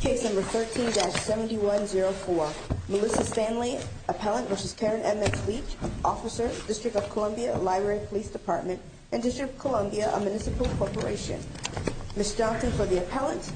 Case number 13-7104. Melissa Standley, Appellant versus Karen Edmonds-Leach, Officer, District of Columbia Library Police Department and District of Columbia Municipal Corporation. Ms. Johnston for the Appellant.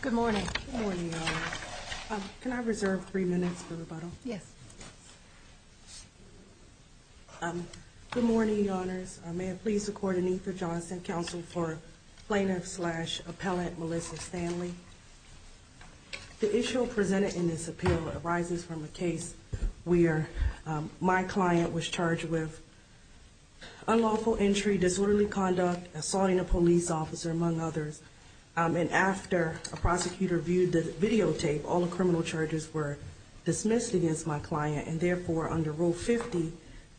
Good morning. Can I reserve three minutes for rebuttal? Yes. Good morning, Your Honors. May I please record a need for Johnston counsel for Plaintiff-slash-Appellant Melissa Standley. The issue presented in this appeal arises from a case where my client was charged with unlawful entry, disorderly conduct, assaulting a police officer, among others. And after a prosecutor viewed the videotape, all the criminal charges were dismissed against my client, and therefore, under Rule 50,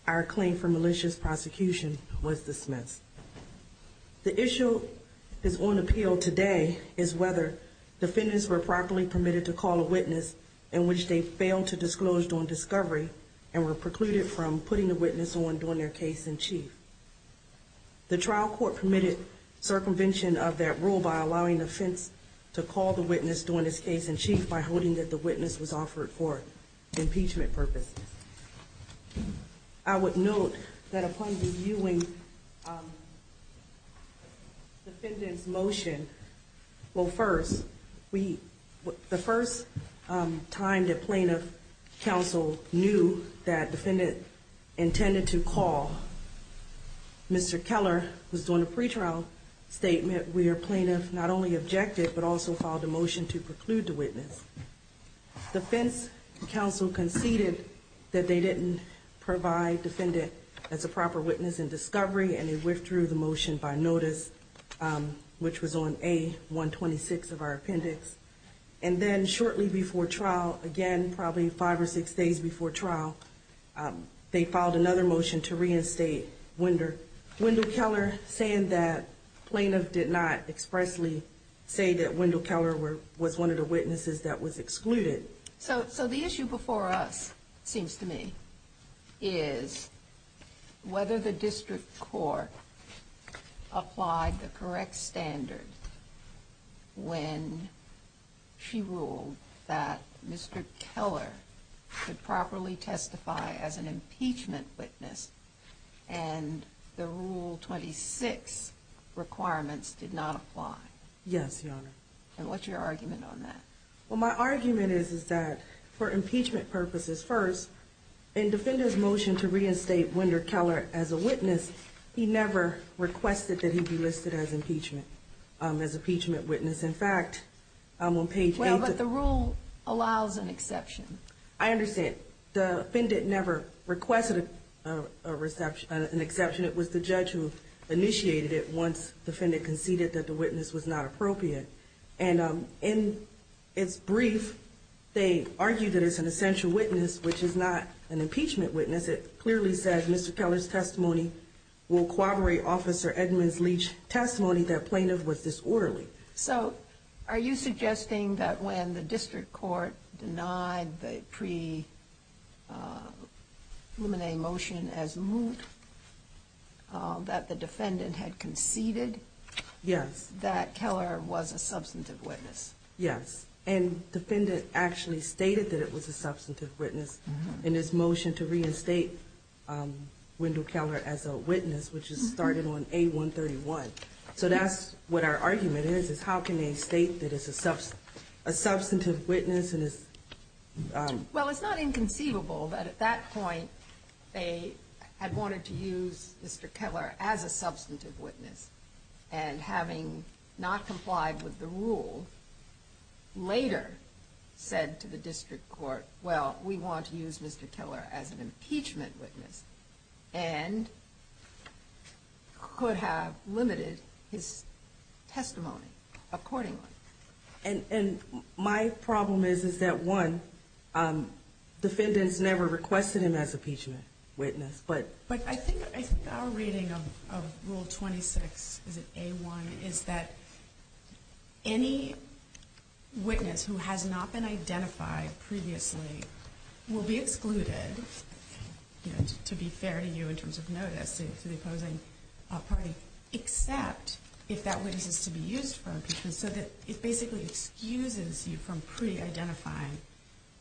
our claim for malicious prosecution was dismissed. The issue that's on appeal today is whether defendants were properly permitted to call a witness in which they failed to disclose during discovery and were precluded from putting the witness on during their case in chief. The trial court permitted circumvention of that rule by allowing the defense to call the witness during his case in chief by holding that the witness was offered for impeachment purposes. I would note that upon reviewing defendant's motion, well, first, the first time that plaintiff counsel knew that defendant intended to call, Mr. Keller was doing a pretrial statement where plaintiff not only objected but also filed a motion to preclude the witness. Defense counsel conceded that they didn't provide defendant as a proper witness in discovery, and they withdrew the motion by notice, which was on A126 of our appendix. And then shortly before trial, again, probably five or six days before trial, they filed another motion to reinstate Wendell Keller, saying that plaintiff did not expressly say that Wendell Keller was one of the witnesses that was excluded. So the issue before us, it seems to me, is whether the district court applied the correct standard when she ruled that Mr. Keller could properly testify as an impeachment witness and the Rule 26 requirements did not apply. Yes, Your Honor. And what's your argument on that? Well, my argument is, is that for impeachment purposes, first, in defendant's motion to reinstate Wendell Keller as a witness, he never requested that he be listed as impeachment, as impeachment witness. In fact, on page 8 of the… Well, but the rule allows an exception. I understand. The defendant never requested an exception. It was the judge who initiated it once defendant conceded that the witness was not appropriate. And in its brief, they argued that it's an essential witness, which is not an impeachment witness. It clearly said Mr. Keller's testimony will corroborate Officer Edmunds Leach's testimony that plaintiff was disorderly. So are you suggesting that when the district court denied the preliminary motion as moot, that the defendant had conceded… Yes. …that Keller was a substantive witness? Yes. And defendant actually stated that it was a substantive witness in his motion to reinstate Wendell Keller as a witness, which is started on A131. So that's what our argument is, is how can they state that it's a substantive witness and it's… Well, it's not inconceivable that at that point they had wanted to use Mr. Keller as a substantive witness. And having not complied with the rule, later said to the district court, well, we want to use Mr. Keller as an impeachment witness, and could have limited his testimony accordingly. And my problem is that, one, defendants never requested him as impeachment witness, but… But I think our reading of Rule 26, is it A1, is that any witness who has not been identified previously will be excluded, you know, to be fair to you in terms of notice to the opposing party, except if that witness is to be used for impeachment, so that it basically excuses you from pre-identifying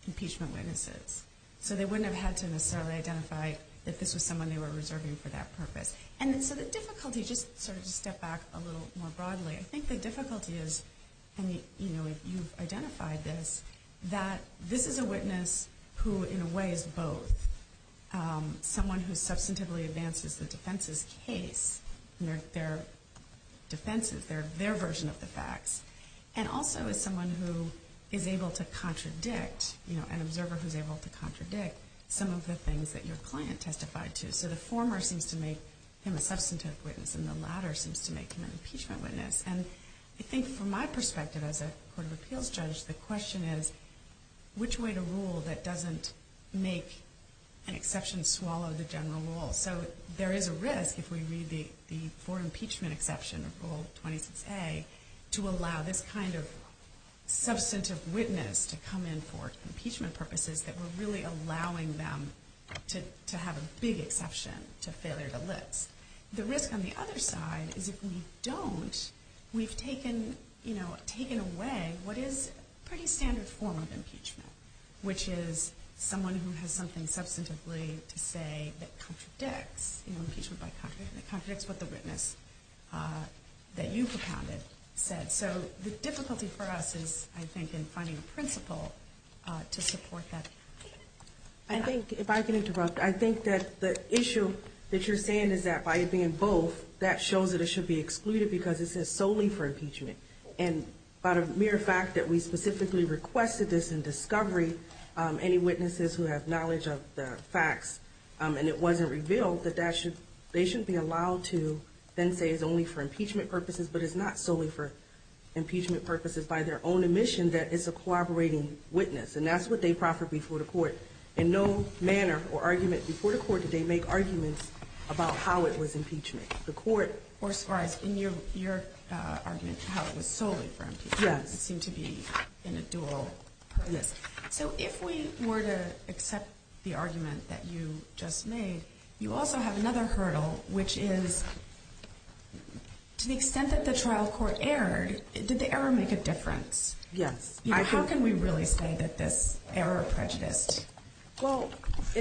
impeachment witnesses. So they wouldn't have had to necessarily identify that this was someone they were reserving for that purpose. And so the difficulty, just sort of to step back a little more broadly, I think the difficulty is, and, you know, you've identified this, that this is a witness who, in a way, is both someone who substantively advances the defense's case, their defenses, their version of the facts, and also is someone who is able to contradict, you know, an observer who's able to contradict some of the things that your client testified to. So the former seems to make him a substantive witness, and the latter seems to make him an impeachment witness. And I think from my perspective as a Court of Appeals judge, the question is, which way to rule that doesn't make an exception swallow the general rule? So there is a risk, if we read the for impeachment exception of Rule 26A, to allow this kind of substantive witness to come in for impeachment purposes that we're really allowing them to have a big exception to failure to list. The risk on the other side is if we don't, we've taken, you know, taken away what is a pretty standard form of impeachment, which is someone who has something substantively to say that contradicts, you know, impeachment by contradiction, that contradicts what the witness that you've accounted said. So the difficulty for us is, I think, in finding a principle to support that. I think, if I can interrupt, I think that the issue that you're saying is that by it being both, that shows that it should be excluded because it says solely for impeachment. And by the mere fact that we specifically requested this in discovery, any witnesses who have knowledge of the facts, and it wasn't revealed that they shouldn't be allowed to then say it's only for impeachment purposes, but it's not solely for impeachment purposes by their own admission that it's a corroborating witness. And that's what they proffer before the court. In no manner or argument before the court did they make arguments about how it was impeachment. Or as far as in your argument, how it was solely for impeachment. It seemed to be in a dual purpose. So if we were to accept the argument that you just made, you also have another hurdle, which is to the extent that the trial court erred, did the error make a difference? Yes. How can we really say that this error prejudiced your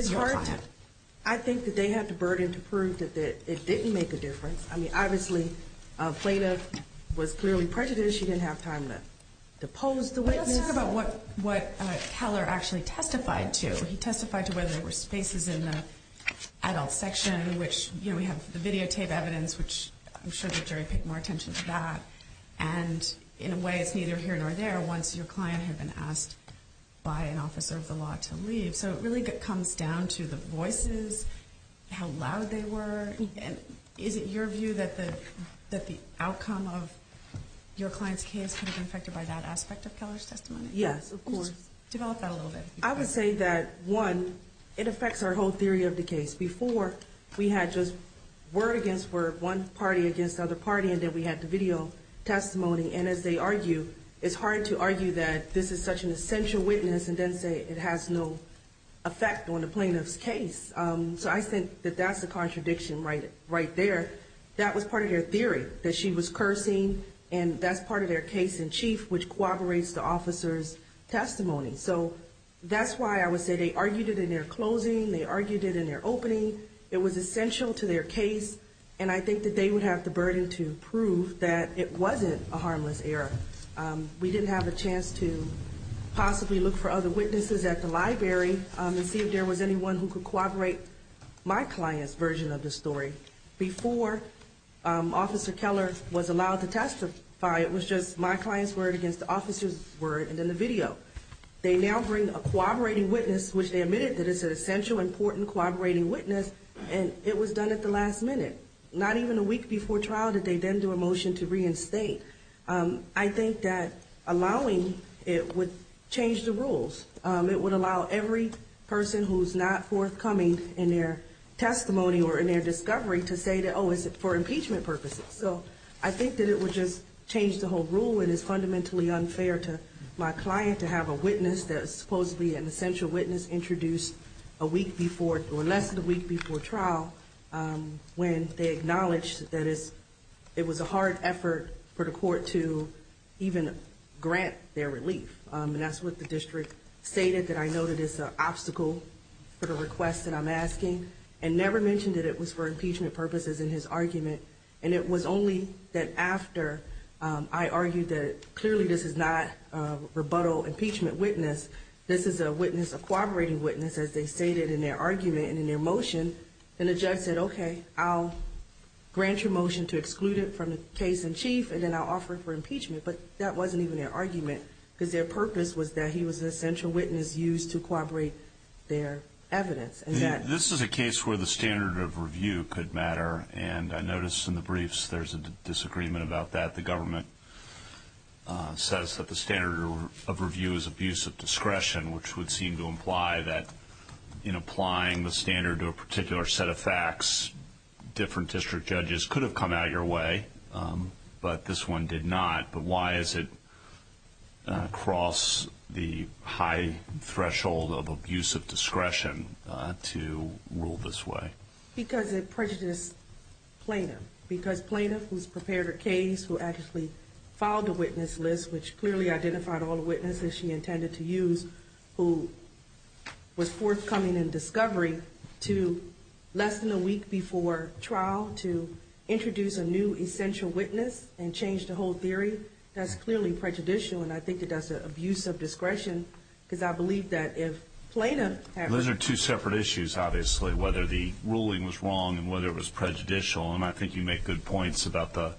client? I think that they have the burden to prove that it didn't make a difference. I mean, obviously, Plata was clearly prejudiced. She didn't have time to pose the witness. Let's talk about what Keller actually testified to. He testified to whether there were spaces in the adult section, which, you know, we have the videotape evidence, which I'm sure the jury paid more attention to that. And in a way, it's neither here nor there once your client had been asked by an officer of the law to leave. So it really comes down to the voices, how loud they were. Is it your view that the outcome of your client's case could have been affected by that aspect of Keller's testimony? Yes, of course. Develop that a little bit. I would say that, one, it affects our whole theory of the case. Before, we had just word against word, one party against the other party, and then we had the video testimony. And as they argue, it's hard to argue that this is such an essential witness and then say it has no effect on the plaintiff's case. So I think that that's a contradiction right there. That was part of their theory, that she was cursing, and that's part of their case in chief, which corroborates the officer's testimony. So that's why I would say they argued it in their closing. They argued it in their opening. It was essential to their case, and I think that they would have the burden to prove that it wasn't a harmless error. We didn't have a chance to possibly look for other witnesses at the library and see if there was anyone who could corroborate my client's version of the story. Before, Officer Keller was allowed to testify. It was just my client's word against the officer's word, and then the video. They now bring a corroborating witness, which they admitted that it's an essential, important corroborating witness, and it was done at the last minute. Not even a week before trial did they then do a motion to reinstate. I think that allowing it would change the rules. It would allow every person who's not forthcoming in their testimony or in their discovery to say that, oh, it's for impeachment purposes. So I think that it would just change the whole rule, and it's fundamentally unfair to my client to have a witness that's supposedly an essential witness introduced a week before, or less than a week before trial, when they acknowledged that it was a hard effort for the court to even grant their relief. And that's what the district stated that I noted as an obstacle for the request that I'm asking, and never mentioned that it was for impeachment purposes in his argument. And it was only that after I argued that clearly this is not a rebuttal impeachment witness. This is a witness, a corroborating witness, as they stated in their argument and in their motion. And the judge said, okay, I'll grant your motion to exclude it from the case in chief, and then I'll offer it for impeachment. But that wasn't even their argument, because their purpose was that he was an essential witness used to corroborate their evidence. This is a case where the standard of review could matter, and I noticed in the briefs there's a disagreement about that. The government says that the standard of review is abuse of discretion, which would seem to imply that in applying the standard to a particular set of facts, different district judges could have come out of your way, but this one did not. But why is it across the high threshold of abuse of discretion to rule this way? Because it prejudiced Plaintiff. Because Plaintiff, who's prepared a case, who actually filed a witness list, which clearly identified all the witnesses she intended to use, who was forthcoming in discovery to less than a week before trial to introduce a new essential witness and change the whole theory, that's clearly prejudicial, and I think that that's an abuse of discretion, because I believe that if Plaintiff had... Those are two separate issues, obviously, whether the ruling was wrong and whether it was prejudicial, and I think you make good points about the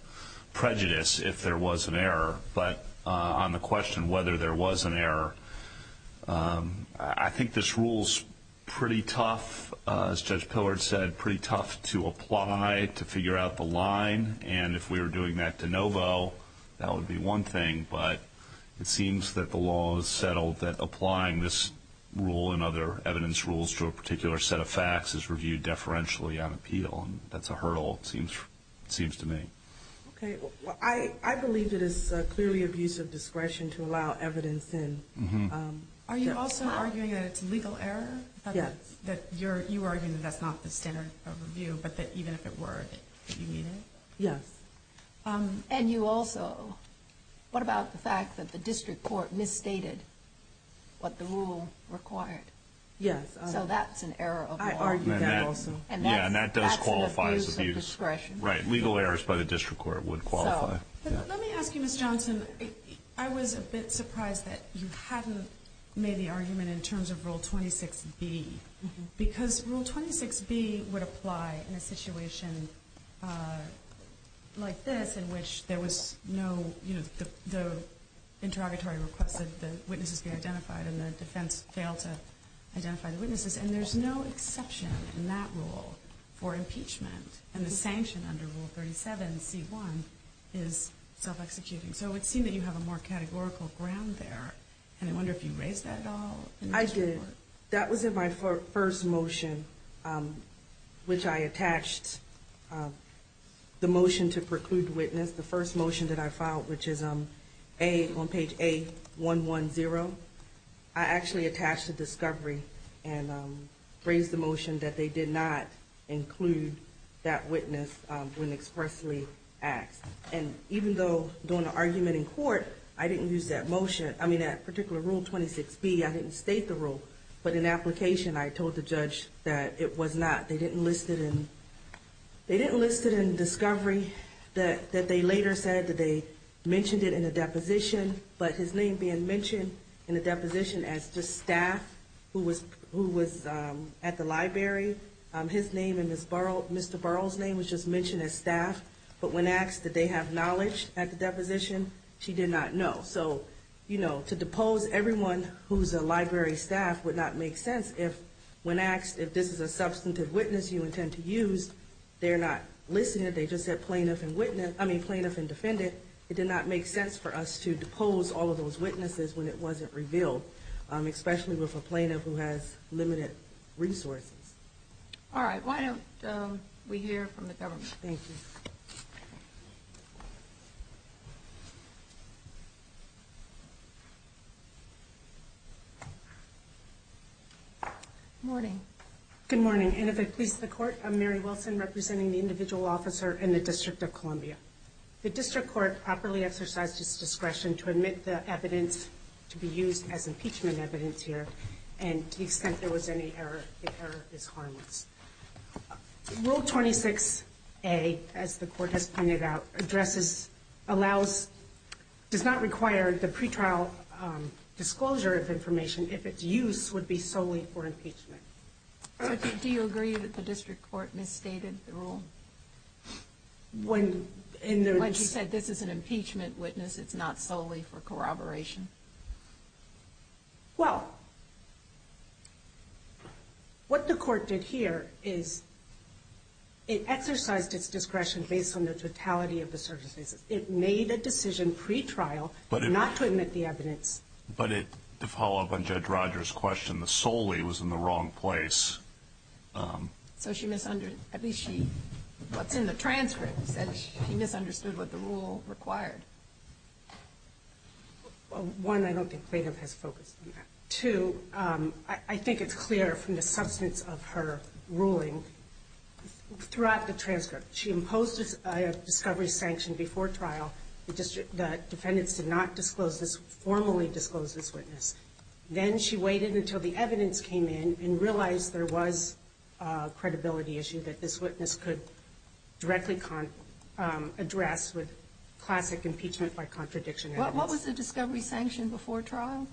prejudice, if there was an error. But on the question whether there was an error, I think this rule's pretty tough, as Judge Pillard said, pretty tough to apply, to figure out the line, and if we were doing that de novo, that would be one thing. But it seems that the law has settled that applying this rule and other evidence rules to a particular set of facts is reviewed deferentially on appeal, and that's a hurdle, it seems to me. Okay. I believe it is clearly abuse of discretion to allow evidence in. Are you also arguing that it's legal error? Yes. You're arguing that that's not the standard of review, but that even if it were, that you need it? Yes. And you also, what about the fact that the district court misstated what the rule required? Yes. So that's an error of law. I argue that also. And that does qualify as abuse. That's an abuse of discretion. Right. Legal errors by the district court would qualify. Let me ask you, Ms. Johnson, I was a bit surprised that you hadn't made the argument in terms of Rule 26B, because Rule 26B would apply in a situation like this in which there was no, you know, the interrogatory request that the witnesses be identified and the defense failed to identify the witnesses, and there's no exception in that rule for impeachment, and the sanction under Rule 37C1 is self-executing. So it would seem that you have a more categorical ground there, and I wonder if you raised that at all? I did. That was in my first motion, which I attached the motion to preclude the witness, the first motion that I filed, which is on page A110. I actually attached the discovery and raised the motion that they did not include that witness when expressly asked. And even though during the argument in court, I didn't use that motion, I mean, that particular Rule 26B, I didn't state the rule. But in application, I told the judge that it was not. They didn't list it in discovery, that they later said that they mentioned it in a deposition, but his name being mentioned in the deposition as just staff who was at the library, his name and Mr. Burrell's name was just mentioned as staff. But when asked did they have knowledge at the deposition, she did not know. So, you know, to depose everyone who's a library staff would not make sense if when asked if this is a substantive witness you intend to use, they're not listening, they just said plaintiff and defendant. It did not make sense for us to depose all of those witnesses when it wasn't revealed, especially with a plaintiff who has limited resources. All right. Why don't we hear from the government? Thank you. Good morning. Good morning. And if it pleases the Court, I'm Mary Wilson, representing the individual officer in the District of Columbia. The District Court properly exercised its discretion to admit the evidence to be used as impeachment evidence here, and to the extent there was any error, the error is harmless. Rule 26A, as the Court has pointed out, does not require the pretrial disclosure of information if its use would be solely for impeachment. Do you agree that the District Court misstated the rule? When she said this is an impeachment witness, it's not solely for corroboration? Well, what the Court did here is it exercised its discretion based on the totality of the circumstances. It made a decision pretrial not to admit the evidence. But to follow up on Judge Rogers' question, the solely was in the wrong place. So she misunderstood. At least what's in the transcript said she misunderstood what the rule required. One, I don't think plaintiff has focused on that. Two, I think it's clear from the substance of her ruling throughout the transcript. She imposed a discovery sanction before trial. The defendants did not formally disclose this witness. Then she waited until the evidence came in and realized there was a credibility issue that this witness could directly address with classic impeachment by contradiction evidence. What was the discovery sanction before trial?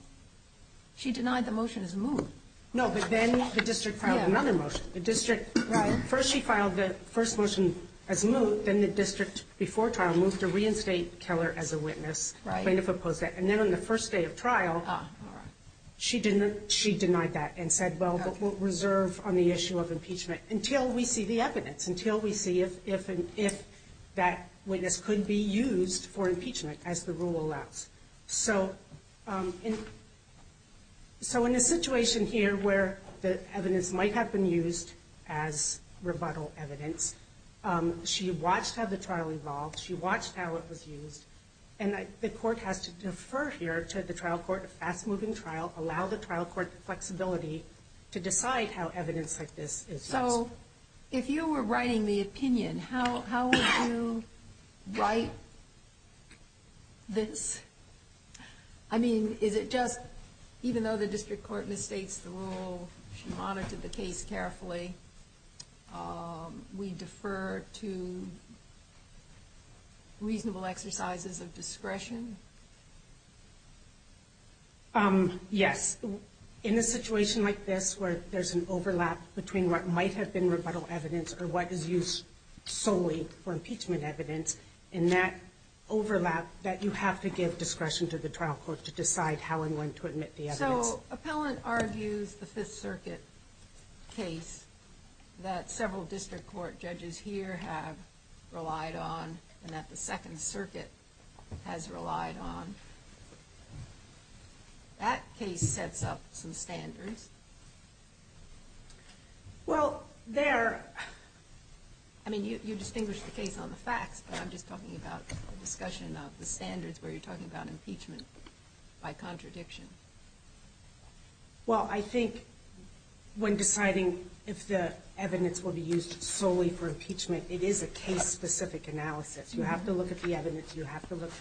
She denied the motion as moot. No, but then the District filed another motion. First she filed the first motion as moot. Then the District, before trial, moved to reinstate Keller as a witness. Plaintiff opposed that. And then on the first day of trial, she denied that and said, well, but we'll reserve on the issue of impeachment until we see the evidence, until we see if that witness could be used for impeachment as the rule allows. So in a situation here where the evidence might have been used as rebuttal evidence, she watched how the trial evolved. She watched how it was used. And the court has to defer here to the trial court, a fast-moving trial, allow the trial court flexibility to decide how evidence like this is used. So if you were writing the opinion, how would you write this? I mean, is it just even though the District Court mistakes the rule, she monitored the case carefully, we defer to reasonable exercises of discretion? Yes. In a situation like this where there's an overlap between what might have been rebuttal evidence or what is used solely for impeachment evidence, in that overlap that you have to give discretion to the trial court to decide how and when to admit the evidence. So appellant argues the Fifth Circuit case that several District Court judges here have relied on and that the Second Circuit has relied on. That case sets up some standards. Well, there – I mean, you distinguish the case on the facts, but I'm just talking about the discussion of the standards where you're talking about impeachment by contradiction. Well, I think when deciding if the evidence will be used solely for impeachment, it is a case-specific analysis. You have to look at the evidence, you have to look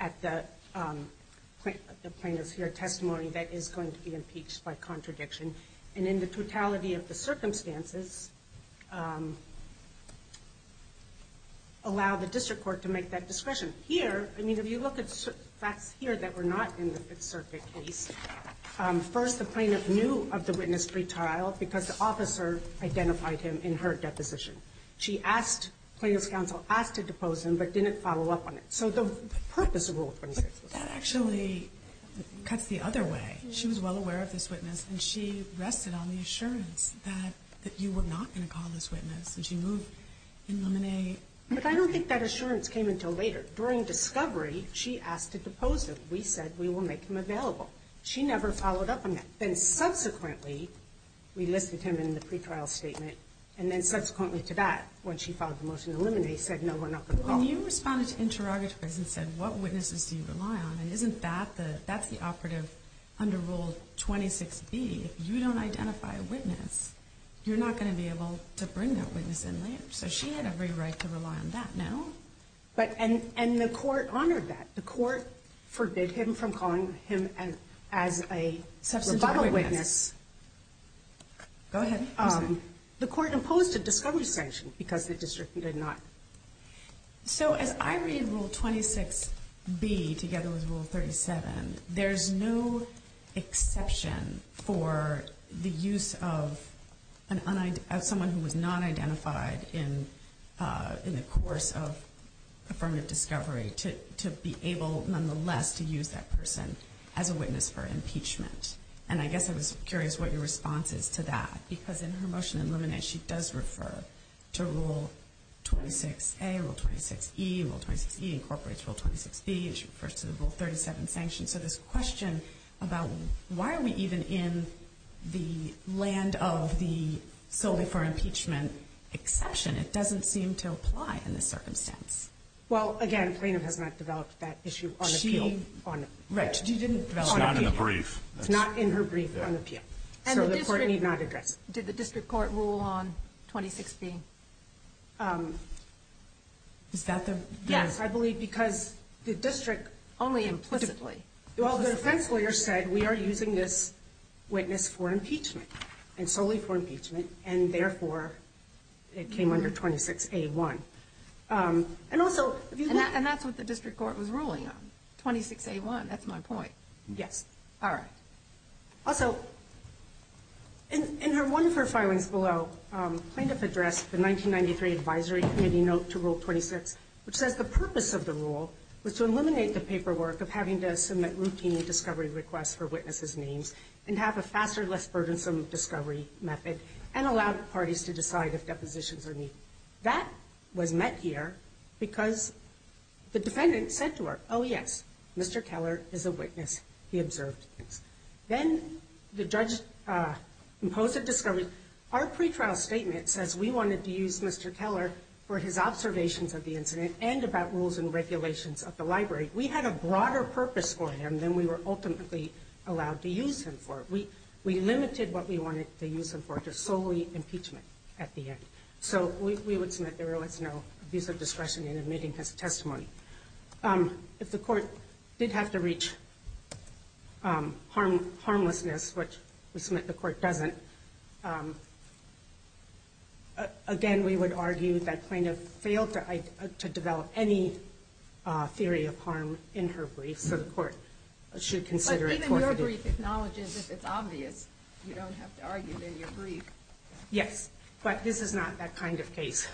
at the plaintiff's testimony that is going to be impeached by contradiction. And in the totality of the circumstances, allow the District Court to make that discretion. Here, I mean, if you look at facts here that were not in the Fifth Circuit case, first, the plaintiff knew of the witness' retrial because the officer identified him in her deposition. She asked – plaintiff's counsel asked to depose him, but didn't follow up on it. So the purpose of Rule 26 was that. But that actually cuts the other way. She was well aware of this witness, and she rested on the assurance that you were not going to call this witness, and she moved in limine. But I don't think that assurance came until later. During discovery, she asked to depose him. We said we will make him available. She never followed up on that. Then subsequently, we listed him in the pretrial statement, and then subsequently to that, when she filed the motion to eliminate, he said, no, we're not going to call him. When you responded to interrogatories and said, what witnesses do you rely on, and isn't that the – that's the operative under Rule 26b. If you don't identify a witness, you're not going to be able to bring that witness in there. So she had every right to rely on that now. And the court honored that. The court forbid him from calling him as a rebuttal witness. Go ahead. The court imposed a discovery sanction because the district did not. So as I read Rule 26b together with Rule 37, there's no exception for the use of someone who was not identified in the course of affirmative discovery to be able, nonetheless, to use that person as a witness for impeachment. And I guess I was curious what your response is to that. Because in her motion to eliminate, she does refer to Rule 26a, Rule 26e. Rule 26e incorporates Rule 26b. She refers to the Rule 37 sanction. So this question about why are we even in the land of the solely for impeachment exception, it doesn't seem to apply in this circumstance. Well, again, Plainham has not developed that issue on appeal. She – right. She didn't develop it on appeal. It's not in the brief. It's not in her brief on appeal. So the court need not address it. Did the district court rule on 26b? Is that the – Yes, I believe because the district – Only implicitly. Well, the defense lawyer said we are using this witness for impeachment and solely for impeachment, and therefore it came under 26a1. And also – And that's what the district court was ruling on, 26a1. That's my point. Yes. All right. Also, in one of her filings below, Plainham addressed the 1993 Advisory Committee note to Rule 26, which says the purpose of the rule was to eliminate the paperwork of having to submit routine discovery requests for witnesses' names and have a faster, less burdensome discovery method and allow parties to decide if depositions are needed. That was met here because the defendant said to her, oh, yes, Mr. Keller is a witness. He observed things. Then the judge imposed a discovery. Our pretrial statement says we wanted to use Mr. Keller for his observations of the incident and about rules and regulations of the library. We had a broader purpose for him than we were ultimately allowed to use him for. We limited what we wanted to use him for to solely impeachment at the end. So we would submit there was no abuse of discretion in admitting his testimony. If the court did have to reach harmlessness, which we submit the court doesn't, again, we would argue that Plainham failed to develop any theory of harm in her brief, so the court should consider it. But even your brief acknowledges if it's obvious, you don't have to argue in your brief. Yes. But this is not that kind of case.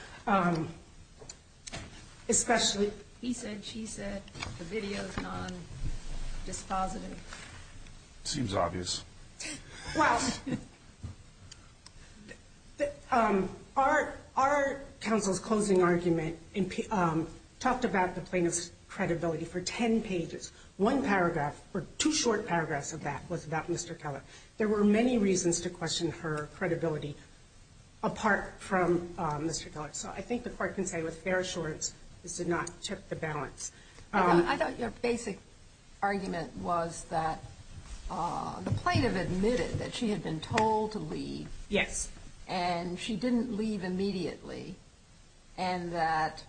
He said, she said, the video is non-dispositive. Seems obvious. Well, our counsel's closing argument talked about the plaintiff's credibility for 10 pages. One paragraph or two short paragraphs of that was about Mr. Keller. There were many reasons to question her credibility apart from Mr. Keller. So I think the court can say with fair assurance this did not tip the balance. I thought your basic argument was that the plaintiff admitted that she had been told to leave. Yes. And she didn't leave immediately. And that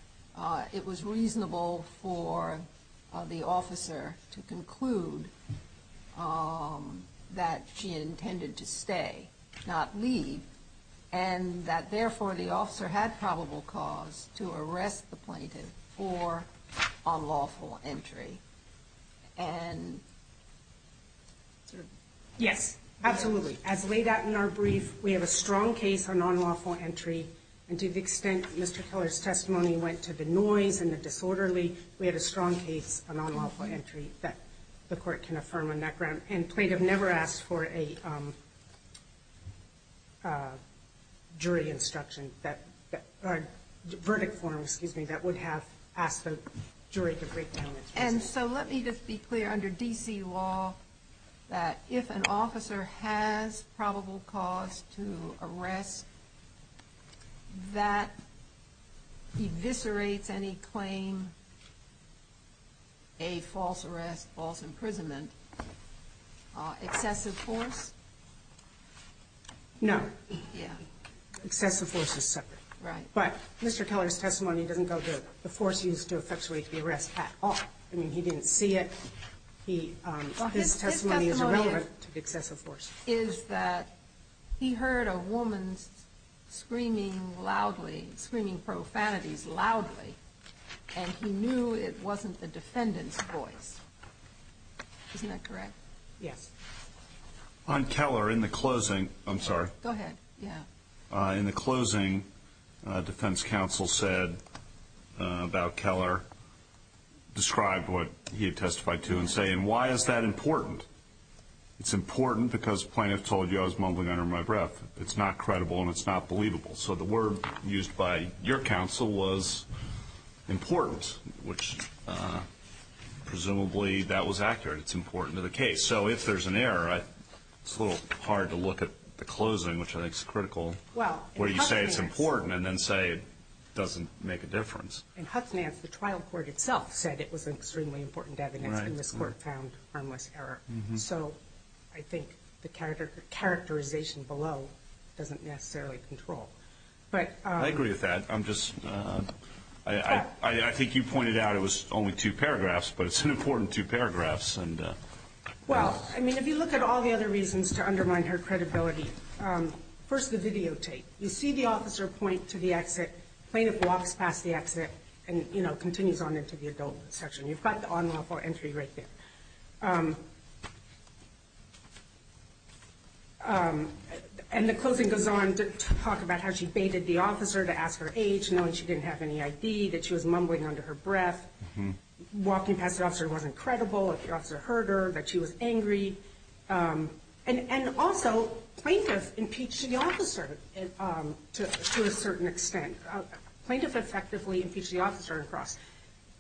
it was reasonable for the officer to conclude that she intended to stay, not leave. And that, therefore, the officer had probable cause to arrest the plaintiff for unlawful entry. Yes, absolutely. As laid out in our brief, we have a strong case of non-lawful entry. And to the extent Mr. Keller's testimony went to the noise and the disorderly, we had a strong case of non-lawful entry that the court can affirm on that ground. And the plaintiff never asked for a jury instruction, a verdict form, excuse me, that would have asked the jury to break down instruction. And so let me just be clear, under D.C. law, that if an officer has probable cause to arrest, that eviscerates any claim, a false arrest, false imprisonment, excessive force? No. Yeah. Excessive force is separate. Right. But Mr. Keller's testimony doesn't go to the force used to effectuate the arrest at all. I mean, he didn't see it. His testimony is irrelevant to excessive force. His testimony is that he heard a woman screaming loudly, screaming profanities loudly, and he knew it wasn't the defendant's voice. Isn't that correct? Yes. On Keller, in the closing, I'm sorry. Go ahead. Yeah. In the closing, defense counsel said about Keller, described what he had testified to and say, and why is that important? It's important because plaintiff told you I was mumbling under my breath. It's not credible and it's not believable. So the word used by your counsel was important, which presumably that was accurate. It's important to the case. So if there's an error, it's a little hard to look at the closing, which I think is critical, where you say it's important and then say it doesn't make a difference. In Huffman, the trial court itself said it was extremely important evidence, and this court found harmless error. So I think the characterization below doesn't necessarily control. I agree with that. I think you pointed out it was only two paragraphs, but it's an important two paragraphs. Well, I mean, if you look at all the other reasons to undermine her credibility, first the videotape. You see the officer point to the exit. Plaintiff walks past the exit and, you know, continues on into the adult section. You've got the unlawful entry right there. And the closing goes on to talk about how she baited the officer to ask her age, knowing she didn't have any ID, that she was mumbling under her breath. Walking past the officer wasn't credible. The officer heard her, that she was angry. And also, plaintiff impeached the officer to a certain extent. Plaintiff effectively impeached the officer across.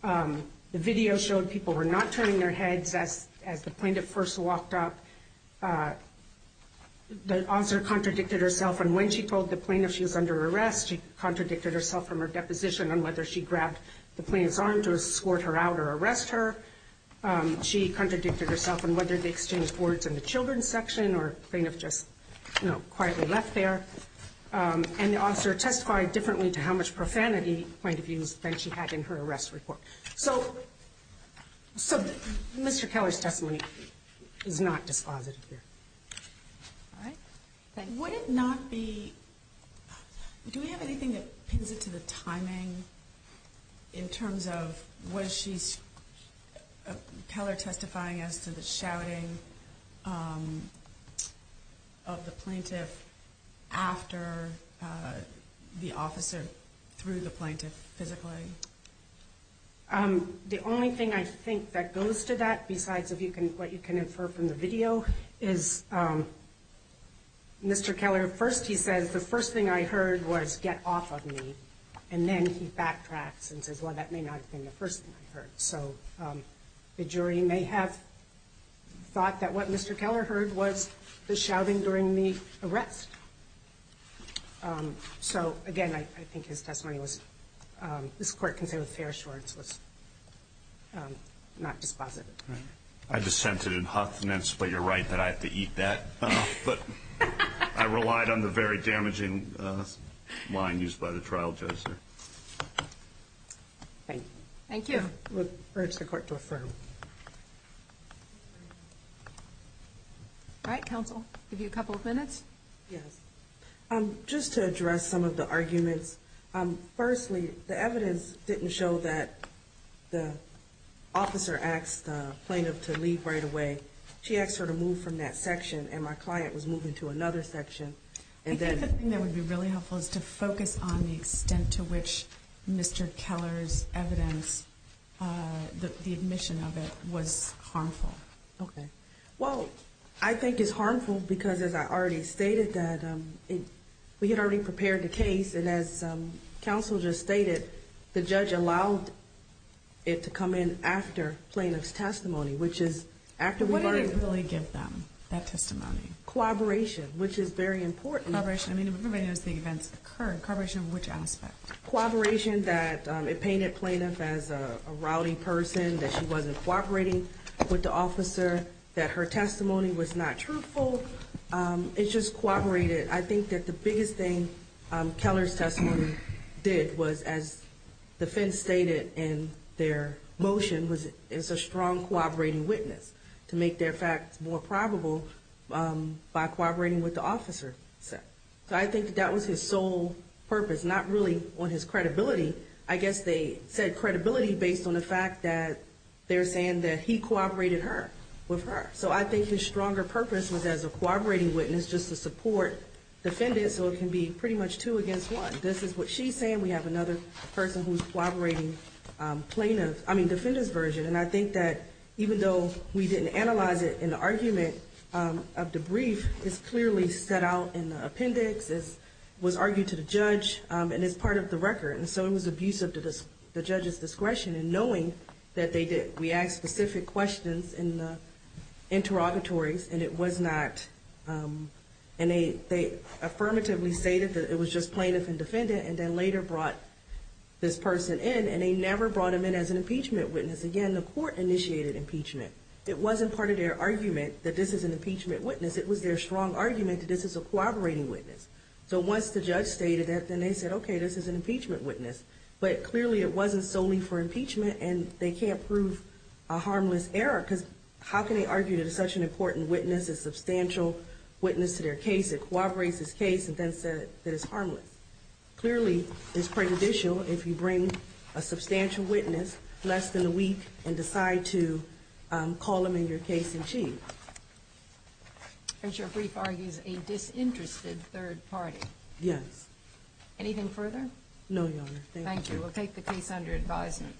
The video showed people were not turning their heads as the plaintiff first walked up. The officer contradicted herself, and when she told the plaintiff she was under arrest, she contradicted herself from her deposition on whether she grabbed the plaintiff's arm to escort her out or arrest her. She contradicted herself on whether they exchanged words in the children's section, or plaintiff just, you know, quietly left there. And the officer testified differently to how much profanity, point of view, she had in her arrest report. So Mr. Keller's testimony is not dispositive here. All right. Thank you. Could it not be, do we have anything that pins it to the timing in terms of what she's, Keller testifying as to the shouting of the plaintiff after the officer threw the plaintiff physically? The only thing I think that goes to that besides what you can infer from the video is Mr. Keller, first he says, the first thing I heard was get off of me. And then he backtracks and says, well, that may not have been the first thing I heard. So the jury may have thought that what Mr. Keller heard was the shouting during the arrest. So, again, I think his testimony was, this Court can say with fair assurance, was not dispositive. I dissented in Huffnance, but you're right that I have to eat that. But I relied on the very damaging line used by the trial judge there. Thank you. Thank you. I would urge the Court to affirm. All right, counsel, give you a couple of minutes. Yes. Just to address some of the arguments. Firstly, the evidence didn't show that the officer asked the plaintiff to leave right away. She asked her to move from that section, and my client was moving to another section. I think the thing that would be really helpful is to focus on the extent to which Mr. Keller's evidence, the admission of it, was harmful. Okay. Well, I think it's harmful because, as I already stated, that we had already prepared the case, and as counsel just stated, the judge allowed it to come in after plaintiff's testimony, which is after we learned it. What did it really give them, that testimony? Cooperation, which is very important. Cooperation. I mean, everybody knows the events occurred. Cooperation, which aspect? Cooperation that it painted plaintiff as a rowdy person, that she wasn't cooperating with the officer, that her testimony was not truthful. It's just cooperated. I think that the biggest thing Keller's testimony did was, as the defense stated in their motion, was it's a strong cooperating witness to make their facts more probable by cooperating with the officer. So I think that that was his sole purpose, not really on his credibility. I guess they said credibility based on the fact that they're saying that he cooperated with her. So I think his stronger purpose was as a cooperating witness just to support defendants, so it can be pretty much two against one. This is what she's saying. We have another person who's cooperating plaintiff, I mean, defendant's version. And I think that even though we didn't analyze it in the argument of the brief, it's clearly set out in the appendix, it was argued to the judge, and it's part of the record. And so it was abusive to the judge's discretion in knowing that they did. We asked specific questions in the interrogatories, and it was not. And they affirmatively stated that it was just plaintiff and defendant and then later brought this person in, and they never brought him in as an impeachment witness again. Even when the court initiated impeachment, it wasn't part of their argument that this is an impeachment witness. It was their strong argument that this is a cooperating witness. So once the judge stated that, then they said, okay, this is an impeachment witness. But clearly it wasn't solely for impeachment, and they can't prove a harmless error, because how can they argue that it's such an important witness, a substantial witness to their case? It cooperates this case and then said that it's harmless. Clearly it's prejudicial if you bring a substantial witness less than a week and decide to call him in your case in chief. And your brief argues a disinterested third party. Yes. Anything further? No, Your Honor. Thank you. Thank you. We'll take the case under advisement.